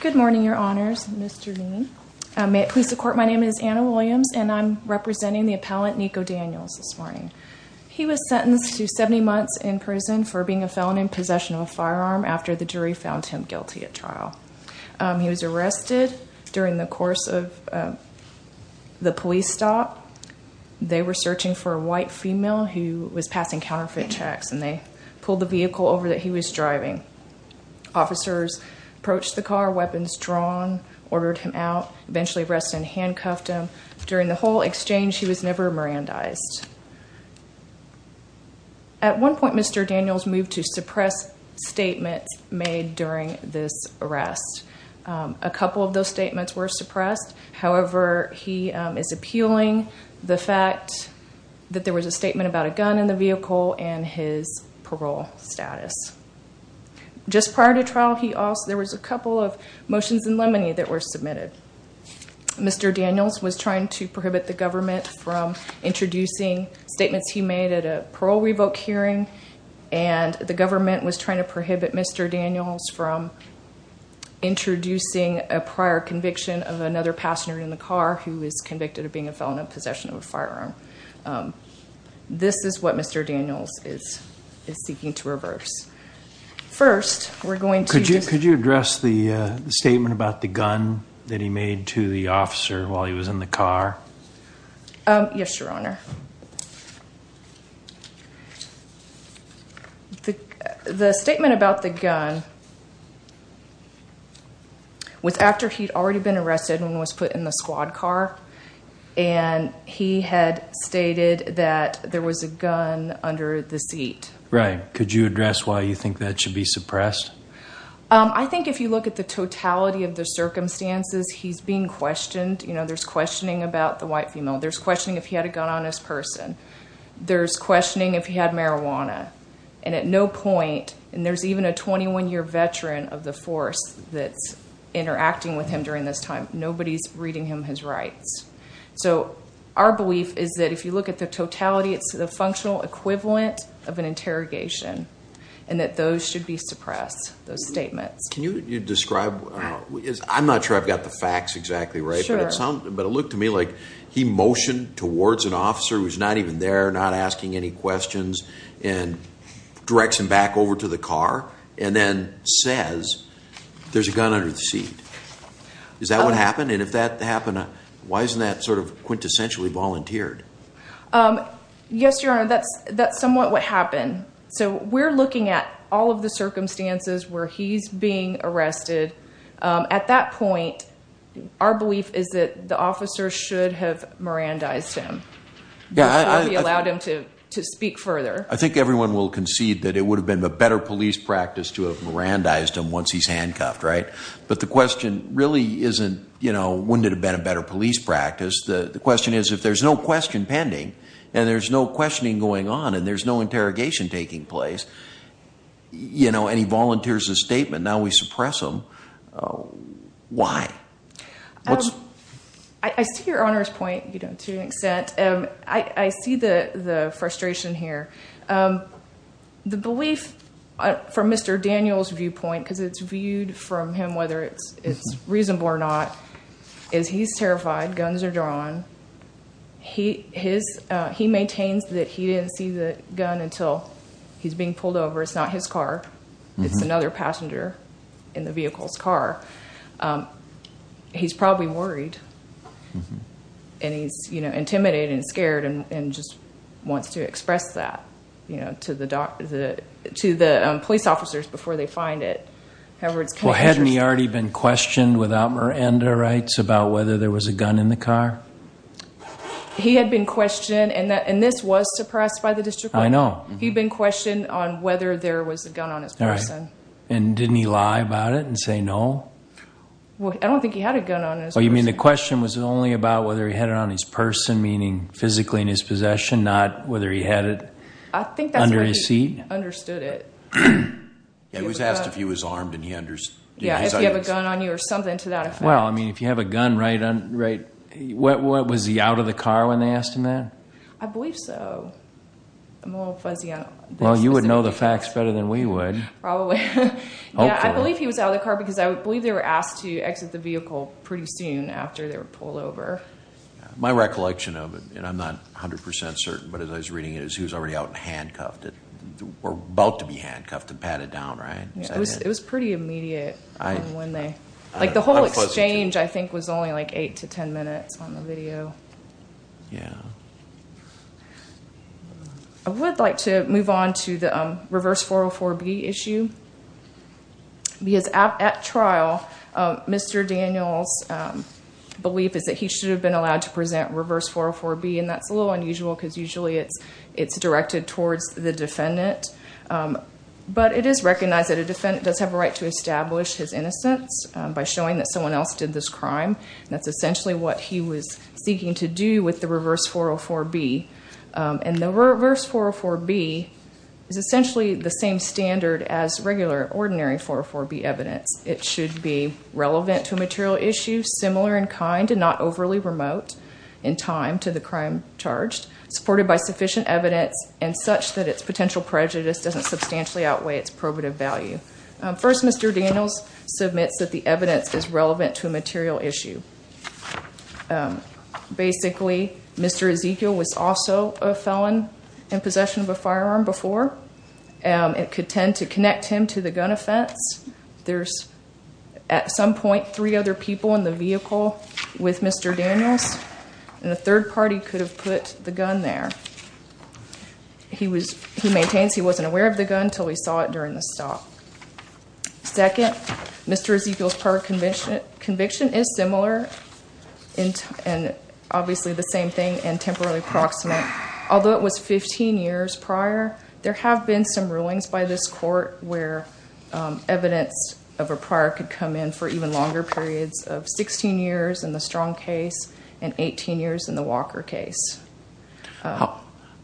Good morning, Your Honors. Mr. Dean. Police of Court, my name is Anna Williams, and I'm representing the appellant Nico Daniels this morning. He was sentenced to 70 months in prison for being a felon in possession of a firearm after the jury found him guilty at trial. He was arrested during the course of the police stop. They were searching for over that he was driving. Officers approached the car, weapons drawn, ordered him out, eventually arrested and handcuffed him. During the whole exchange, he was never Mirandized. At one point, Mr. Daniels moved to suppress statements made during this arrest. A couple of those statements were suppressed. However, he is appealing the fact that there was a statement about a gun in the vehicle and his parole status. Just prior to trial, there was a couple of motions in limine that were submitted. Mr. Daniels was trying to prohibit the government from introducing statements he made at a parole revoke hearing, and the government was trying to prohibit Mr. Daniels from introducing a prior conviction of another passenger in the This is what Mr. Daniels is seeking to reverse. First, we're going to address the statement about the gun that he made to the officer while he was in the car. Yes, Your Honor. The statement about the gun was after he'd already been arrested and was put in the squad car. He had stated that there was a gun under the seat. Right. Could you address why you think that should be suppressed? I think if you look at the totality of the circumstances, he's being questioned. There's questioning about the white female. There's questioning if he had a gun on his person. There's questioning if he had marijuana. At no point, and there's even a 21-year veteran of the force that's interacting with him during this time, nobody's reading him his rights. So our belief is that if you look at the totality, it's the functional equivalent of an interrogation, and that those should be suppressed, those statements. Can you describe? I'm not sure I've got the facts exactly right, but it looked to me like he motioned towards an officer who's not even there, not asking any questions, and directs him back over to the car, and then says, there's a gun under the seat. Is that what happened? And if that happened, why isn't that sort of quintessentially volunteered? Yes, Your Honor, that's somewhat what happened. So we're looking at all of the circumstances where he's being arrested. At that point, our belief is that the officer should have Mirandized him. Yeah. He allowed him to speak further. I think everyone will concede that it would have been a better police practice to have Mirandized him once he's handcuffed, right? But the question really isn't, you know, wouldn't it have been a better police practice? The question is, if there's no question pending, and there's no questioning going on, and there's no interrogation taking place, you know, and he volunteers his statement, now we suppress him. Why? I see Your Honor's point, you know, to an extent. I see the frustration here. The belief from Mr. Daniels' viewpoint, because it's viewed from him whether it's reasonable or not, is he's terrified. Guns are drawn. He maintains that he didn't see the gun until he's being pulled over. It's not his car. It's another passenger in the vehicle's car. He's probably worried. And he's, you know, intimidated and scared and just wants to express that, you know, to the police officers before they find it. Well, hadn't he already been questioned without Miranda rights about whether there was a gun in the car? He had been questioned, and this was suppressed by the district court. I know. He'd been questioned on whether there was a gun on his person. And didn't he lie about it and say no? Well, I don't think he had a gun on his person. Oh, you mean the question was only about whether he had it on his person, meaning physically in his possession, not whether he had it under his seat? I think that's where he understood it. Yeah, he was asked if he was armed and he understood. Yeah, if you have a gun on you or something to that effect. Well, I mean, if you have a gun, right, what, was he out of the car when they asked him that? I believe so. I'm a little fuzzy on that. Well, you would know the facts better than we would. Probably. Yeah, I believe he was out of the car because I believe they were asked to exit the vehicle pretty soon after they were pulled over. My recollection of it, and I'm not 100% certain, but as I was reading it, he was already out and handcuffed, or about to be handcuffed and patted down, right? It was pretty immediate when they, like the whole exchange I think was only like 8 to 10 minutes on the video. Yeah. I would like to move on to the reverse 404B issue. Because at trial, Mr. Daniel's belief is that he should have been allowed to present reverse 404B, and that's a little unusual because usually it's directed towards the defendant. But it is recognized that a defendant does have a right to establish his innocence by showing that someone else did this crime. That's essentially what he was seeking to do with the reverse 404B. And the reverse 404B is essentially the same standard as regular, ordinary 404B evidence. It should be relevant to a material issue, similar in kind and not overly remote in time to the crime charged, supported by sufficient evidence, and such that its potential prejudice doesn't substantially outweigh its probative value. First, Mr. Daniels submits that the evidence is relevant to a material issue. Basically, Mr. Ezekiel was also a felon in possession of a firearm before. It could tend to connect him to the gun offense. There's at some point three other people in the vehicle with Mr. Daniels, and the third party could have put the gun there. He was, he maintains he wasn't aware of the gun until he saw it during the stop. Second, Mr. Ezekiel's conviction is similar in time, and obviously the same thing, and temporarily proximate. Although it was 15 years prior, there have been some rulings by this court where evidence of a prior could come in for even longer periods of 16 years in the Strong case and 18 years in the Walker case. How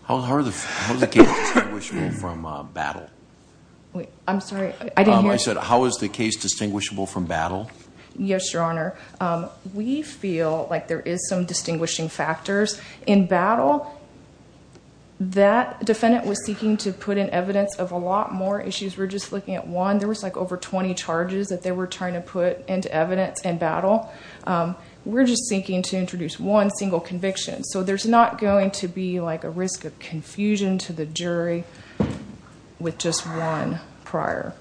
is the case distinguishable from Battle? I'm sorry, I didn't hear you. I said, how is the case distinguishable from Battle? Yes, Your Honor. We feel like there is some distinguishing factors. In Battle, that defendant was seeking to put in evidence of a lot more issues. We're just looking at one. There was like over 20 charges that they were trying to put into evidence in Battle. We're just seeking to introduce one single conviction, so there's not going to be like a risk of confusion to the jury with just one prior.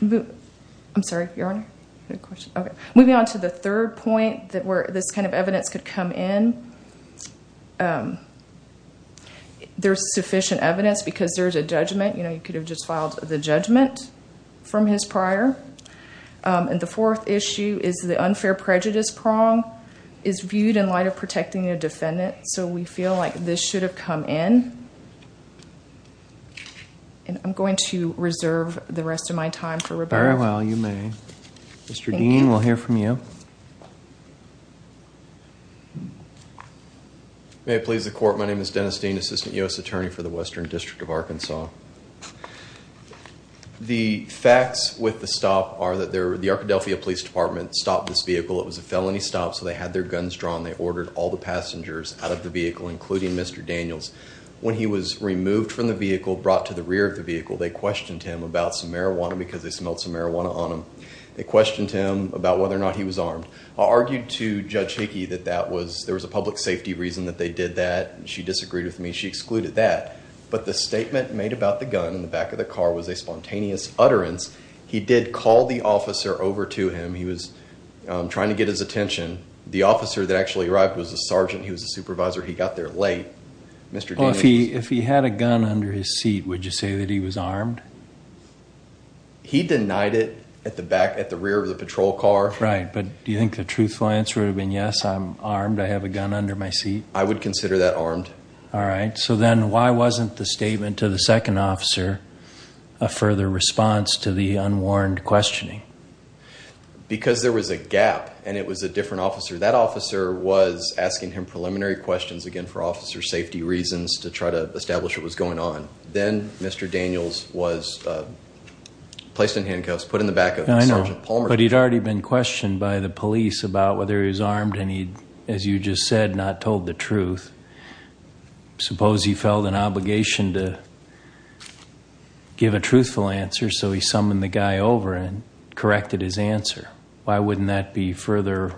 Moving on to the third point that where this kind of evidence could come in, there's sufficient evidence because there's a judgment, you know, you could have just filed the judgment from his prior. The fourth issue is the unfair prejudice prong is viewed in light of protecting a defendant, so we feel like this should have come in. I'm going to reserve the rest of my time for rebuttal. Very well, you may. Mr. Dean, we'll hear from you. May it please the court, my name is Dennis Dean, Assistant U.S. Attorney for the Arkadelphia Police Department. The facts with the stop are that the Arkadelphia Police Department stopped this vehicle. It was a felony stop, so they had their guns drawn. They ordered all the passengers out of the vehicle, including Mr. Daniels. When he was removed from the vehicle, brought to the rear of the vehicle, they questioned him about some marijuana because they smelled some marijuana on him. They questioned him about whether or not he was armed. I argued to Judge Hickey that that was, there was a public safety reason that they did that. She disagreed with me. She excluded that, but the statement made about the gun in the back of the car was a spontaneous utterance. He did call the officer over to him. He was trying to get his attention. The officer that actually arrived was a sergeant. He was a supervisor. He got there late. Mr. Dean, if he had a gun under his seat, would you say that he was armed? He denied it at the back, at the rear of the patrol car. Right, but do you think the truthful answer would have been, yes, I'm armed. I have a gun under my seat. I would consider that armed. All right, so then why wasn't the statement to the second officer a further response to the unwarned questioning? Because there was a gap and it was a different officer. That officer was asking him preliminary questions again for officer safety reasons to try to establish what was going on. Then Mr. Daniels was placed in handcuffs, put in the back of the sergeant. I know, but he'd already been questioned by the police about whether he was armed and he, as you just said, not told the truth. Suppose he felt an obligation to give a truthful answer, so he summoned the guy over and corrected his answer. Why wouldn't that be further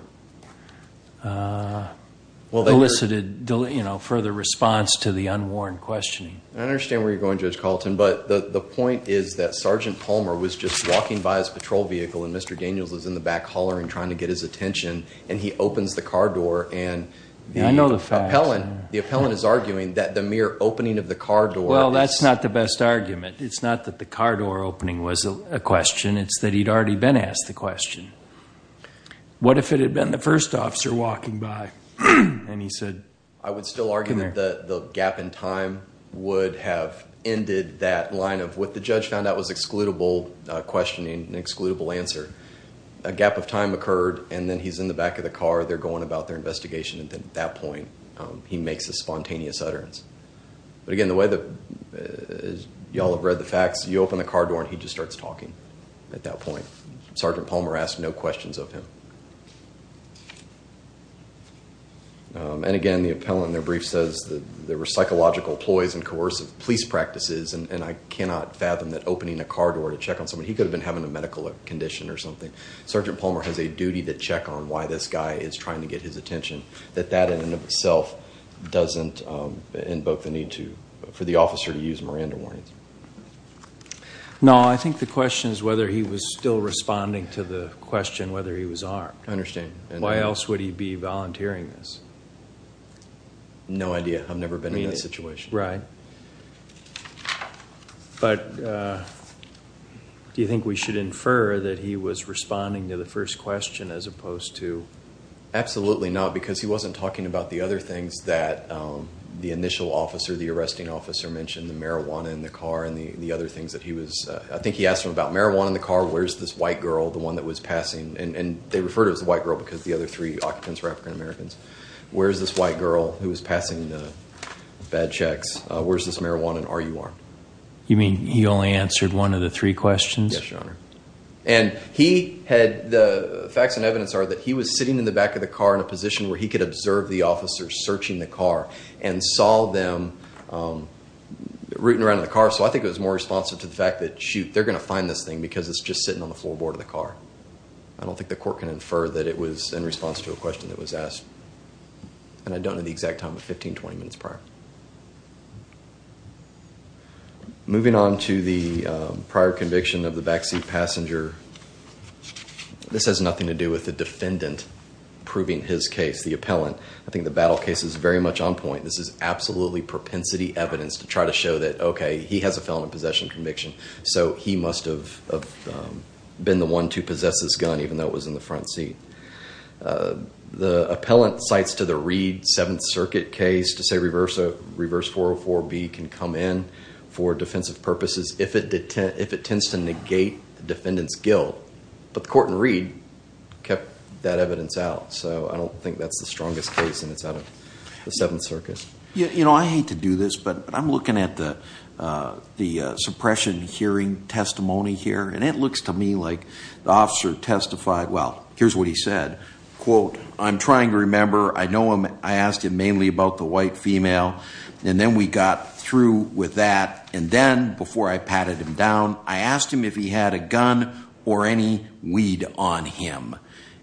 elicited, further response to the unwarned questioning? I understand where you're going, Judge Carlton, but the point is that Sergeant Palmer was just walking by his patrol vehicle and Mr. Daniels was in the back hollering, trying to get his attention. He opens the car door and the appellant is arguing that the mere opening of the car door... Well, that's not the best argument. It's not that the car door opening was a question, it's that he'd already been asked the question. What if it had been the first officer walking by and he said... I would still argue that the gap in time would have ended that line of what the judge found out was excludable questioning, an excludable answer. A gap of time occurred and then he's in the back of the car, they're going about their investigation and then at that point he makes a spontaneous utterance. But again, the way that y'all have read the facts, you open the car door and he just starts talking at that point. Sergeant Palmer asked no questions of him. And again, the appellant in their brief says that there were psychological ploys and coercive police practices and I cannot fathom that opening a car door to check on somebody... He could have been having a medical condition or something. Sergeant Palmer has a duty to check on why this guy is trying to get his attention, that that in and of itself doesn't invoke the need for the officer to use Miranda warnings. No, I think the question is whether he was still responding to the question whether he was armed. I understand. Why else would he be volunteering this? No idea. I've never been in that situation. Right. But do you think we should infer that he was responding to the first question as opposed to absolutely not? Because he wasn't talking about the other things that the initial officer, the arresting officer mentioned, the marijuana in the car and the other things that he was... I think he asked him about marijuana in the car, where's this white girl, the one that was passing and they refer to it as the white girl because the other three occupants were African Americans. Where's this white girl who was passing the bad checks? Where's this marijuana and are you armed? You mean he only answered one of the three questions? Yes, your honor. And he had the facts and evidence are that he was sitting in the back of the car in a position where he could observe the officers searching the car and saw them rooting around in the car. So I think it was more responsive to the fact that, shoot, they're going to find this thing because it's just sitting on the floorboard of the car. I don't think the court can infer that it was in response to a question that was asked and I don't know the exact time of 15, 20 minutes prior. Moving on to the prior conviction of the backseat passenger. This has nothing to do with the defendant proving his case, the appellant. I think the battle case is very much on point. This is absolutely propensity evidence to try to show that, okay, he has a felony possession conviction. So he must have been the one to possess this gun even though it was in the front seat. The appellant cites to the Reed Seventh Circuit case to say reverse 404B can come in for defensive purposes if it tends to negate the defendant's guilt. But the court in Reed kept that evidence out. So I don't think that's the strongest case and it's out of the Seventh Circuit. You know, I hate to do this, but I'm looking at the suppression hearing testimony here and it looks to me like the officer testified, well, here's what he said, quote, I'm trying to remember. I know I asked him mainly about the white female and then we got through with that. And then before I patted him down, I asked him if he had a gun or any weed on him.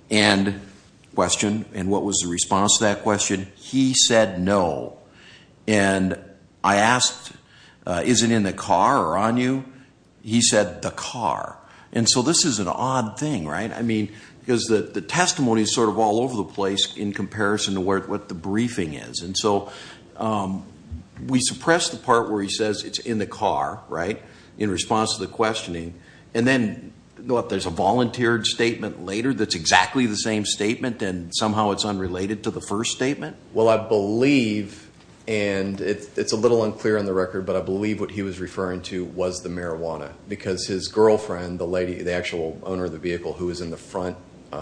And question, and what was the response to that question? He said no. And I asked, is it in the car or on you? He said the car. And so this is an odd thing, right? I mean, because the testimony is sort of all over the place in comparison to what the briefing is. And so we suppress the part where he says it's in the car, right, in response to the questioning. And then there's a volunteered statement later that's exactly the same statement and somehow it's but I believe what he was referring to was the marijuana because his girlfriend, the lady, the actual owner of the vehicle who was in the front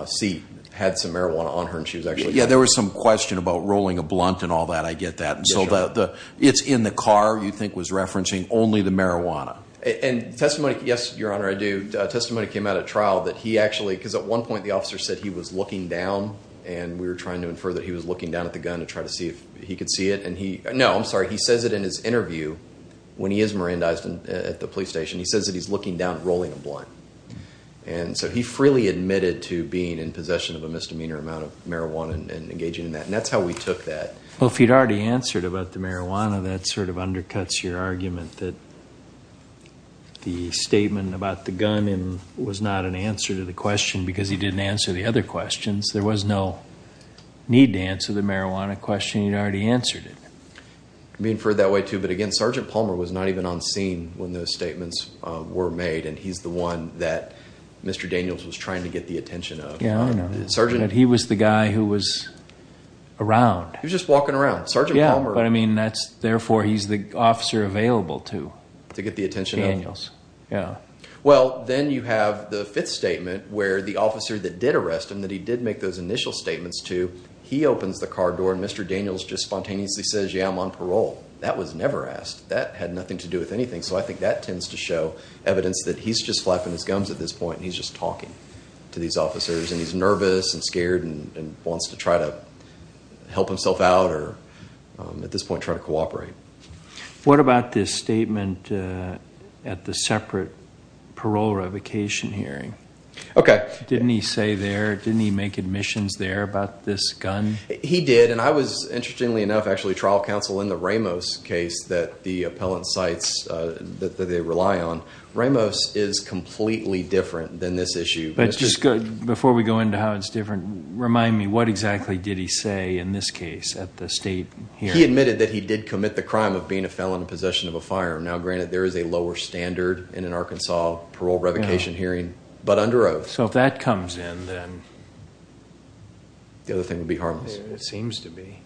seat had some marijuana on her. And she was actually, yeah, there was some question about rolling a blunt and all that. I get that. And so the it's in the car you think was referencing only the marijuana and testimony. Yes, your honor. I do. Testimony came out at trial that he actually, because at one point the officer said he was looking down and we were trying to infer that he was looking down at the gun to try to see if he could see it. And he, no, I'm sorry. He when he is Mirandized at the police station, he says that he's looking down, rolling a blunt. And so he freely admitted to being in possession of a misdemeanor amount of marijuana and engaging in that. And that's how we took that. Well, if you'd already answered about the marijuana, that sort of undercuts your argument that the statement about the gun was not an answer to the question because he didn't answer the other questions. There was no need to answer the on scene when those statements were made. And he's the one that Mr. Daniels was trying to get the attention of the sergeant. And he was the guy who was around. He was just walking around. Sergeant Palmer. I mean, that's therefore he's the officer available to get the attention. Yeah. Well, then you have the fifth statement where the officer that did arrest him, that he did make those initial statements to, he opens the car door and Mr. Daniels just spontaneously says, that was never asked. That had nothing to do with anything. So I think that tends to show evidence that he's just flapping his gums at this point. And he's just talking to these officers and he's nervous and scared and wants to try to help himself out or at this point, try to cooperate. What about this statement at the separate parole revocation hearing? Okay. Didn't he say there, didn't he make admissions there about this gun? He did. And I was interestingly enough, actually trial counsel in the Ramos case that the appellant sites that they rely on. Ramos is completely different than this issue. But it's just good before we go into how it's different. Remind me, what exactly did he say in this case at the state? He admitted that he did commit the crime of being a felon in possession of a firearm. Now granted there is a lower standard in an Arkansas parole revocation hearing, but under oath. So if that comes in then. The other thing would be harmless. It seems to be.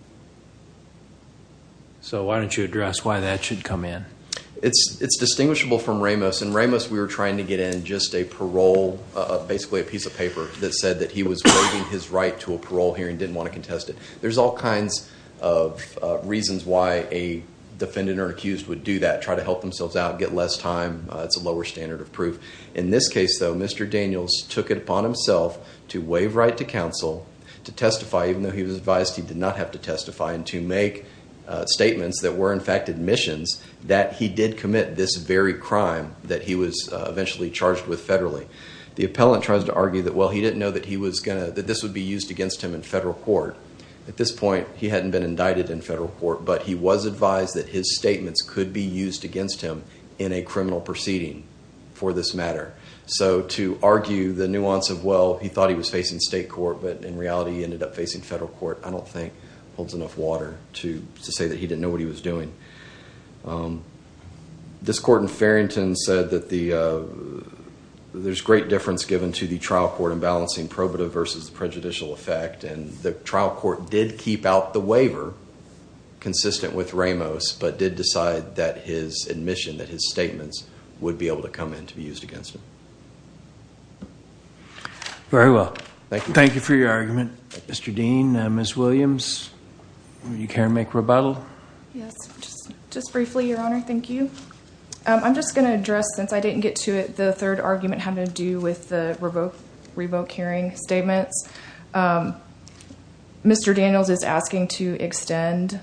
So why don't you address why that should come in? It's distinguishable from Ramos. In Ramos, we were trying to get in just a parole, basically a piece of paper that said that he was waiving his right to a parole hearing, didn't want to contest it. There's all kinds of reasons why a defendant or accused would do that. Try to help themselves out and get less time. It's a lower standard of proof. In this case, though, Mr. Daniels took it upon himself to waive right to counsel to testify, even though he was advised he did not have to testify and to make statements that were in fact admissions that he did commit this very crime that he was eventually charged with federally. The appellant tries to argue that, well, he didn't know that he was going to, that this would be used against him in federal court. At this point, he hadn't been indicted in federal court, but he was advised that his for this matter. To argue the nuance of, well, he thought he was facing state court, but in reality, he ended up facing federal court, I don't think holds enough water to say that he didn't know what he was doing. This court in Farrington said that there's great difference given to the trial court in balancing probative versus prejudicial effect. The trial court did keep out the waiver consistent with Ramos, but did decide that his admission, that his statements would be able to come in to be used against him. Very well. Thank you. Thank you for your argument. Mr. Dean, Ms. Williams, you care to make rebuttal? Yes. Just briefly, your honor. Thank you. I'm just going to address, since I didn't get to it, the third argument having to do with the revoke hearing statements. Mr. Daniels is asking to extend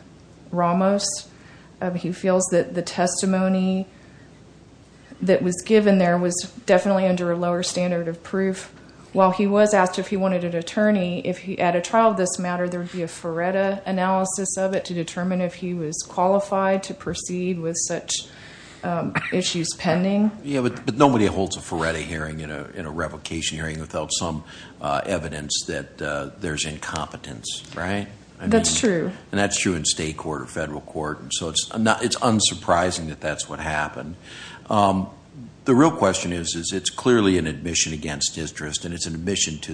Ramos. He feels that the testimony that was given there was definitely under a lower standard of proof. While he was asked if he wanted an attorney, if he had a trial of this matter, there'd be a FARETA analysis of it to determine if he was qualified to proceed with such issues pending. Yeah, but nobody holds a FARETA hearing in a that there's incompetence, right? That's true. And that's true in state court or federal court. So it's unsurprising that that's what happened. The real question is, is it's clearly an admission against interest and it's an admission to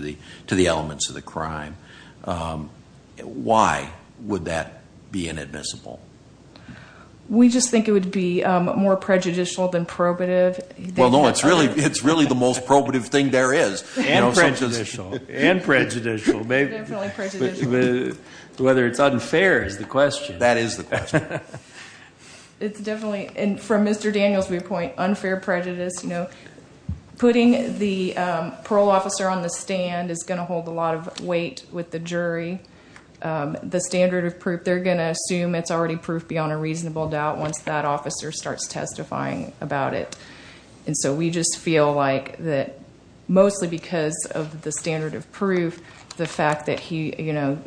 the elements of the crime. Why would that be inadmissible? We just think it would be more prejudicial than probative. Well, no, it's really the most probative thing there is. And prejudicial. And prejudicial. Whether it's unfair is the question. That is the question. It's definitely, and from Mr. Daniels' viewpoint, unfair prejudice. Putting the parole officer on the stand is going to hold a lot of weight with the jury. The standard of proof, they're going to assume it's already proof beyond a reasonable doubt once that officer starts testifying about it. And so we just feel like that mostly because of the standard of proof, the fact that he, you know,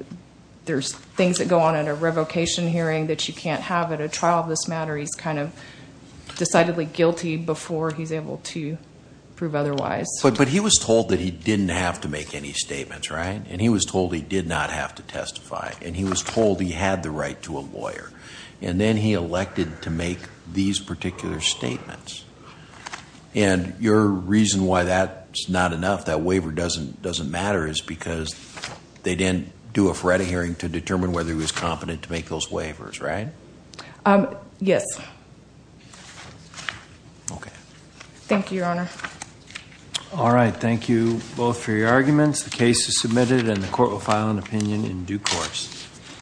there's things that go on at a revocation hearing that you can't have at a trial of this matter. He's kind of decidedly guilty before he's able to prove otherwise. But he was told that he didn't have to make any statements, right? And he was told he did not have to testify. And he was told he had the right to a lawyer. And then he elected to make these particular statements. And your reason why that's not enough, that waiver doesn't doesn't matter, is because they didn't do a Ferretti hearing to determine whether he was competent to make those waivers, right? Yes. Okay. Thank you, Your Honor. All right, thank you both for your arguments. The case is submitted and the court will file an opinion in due course.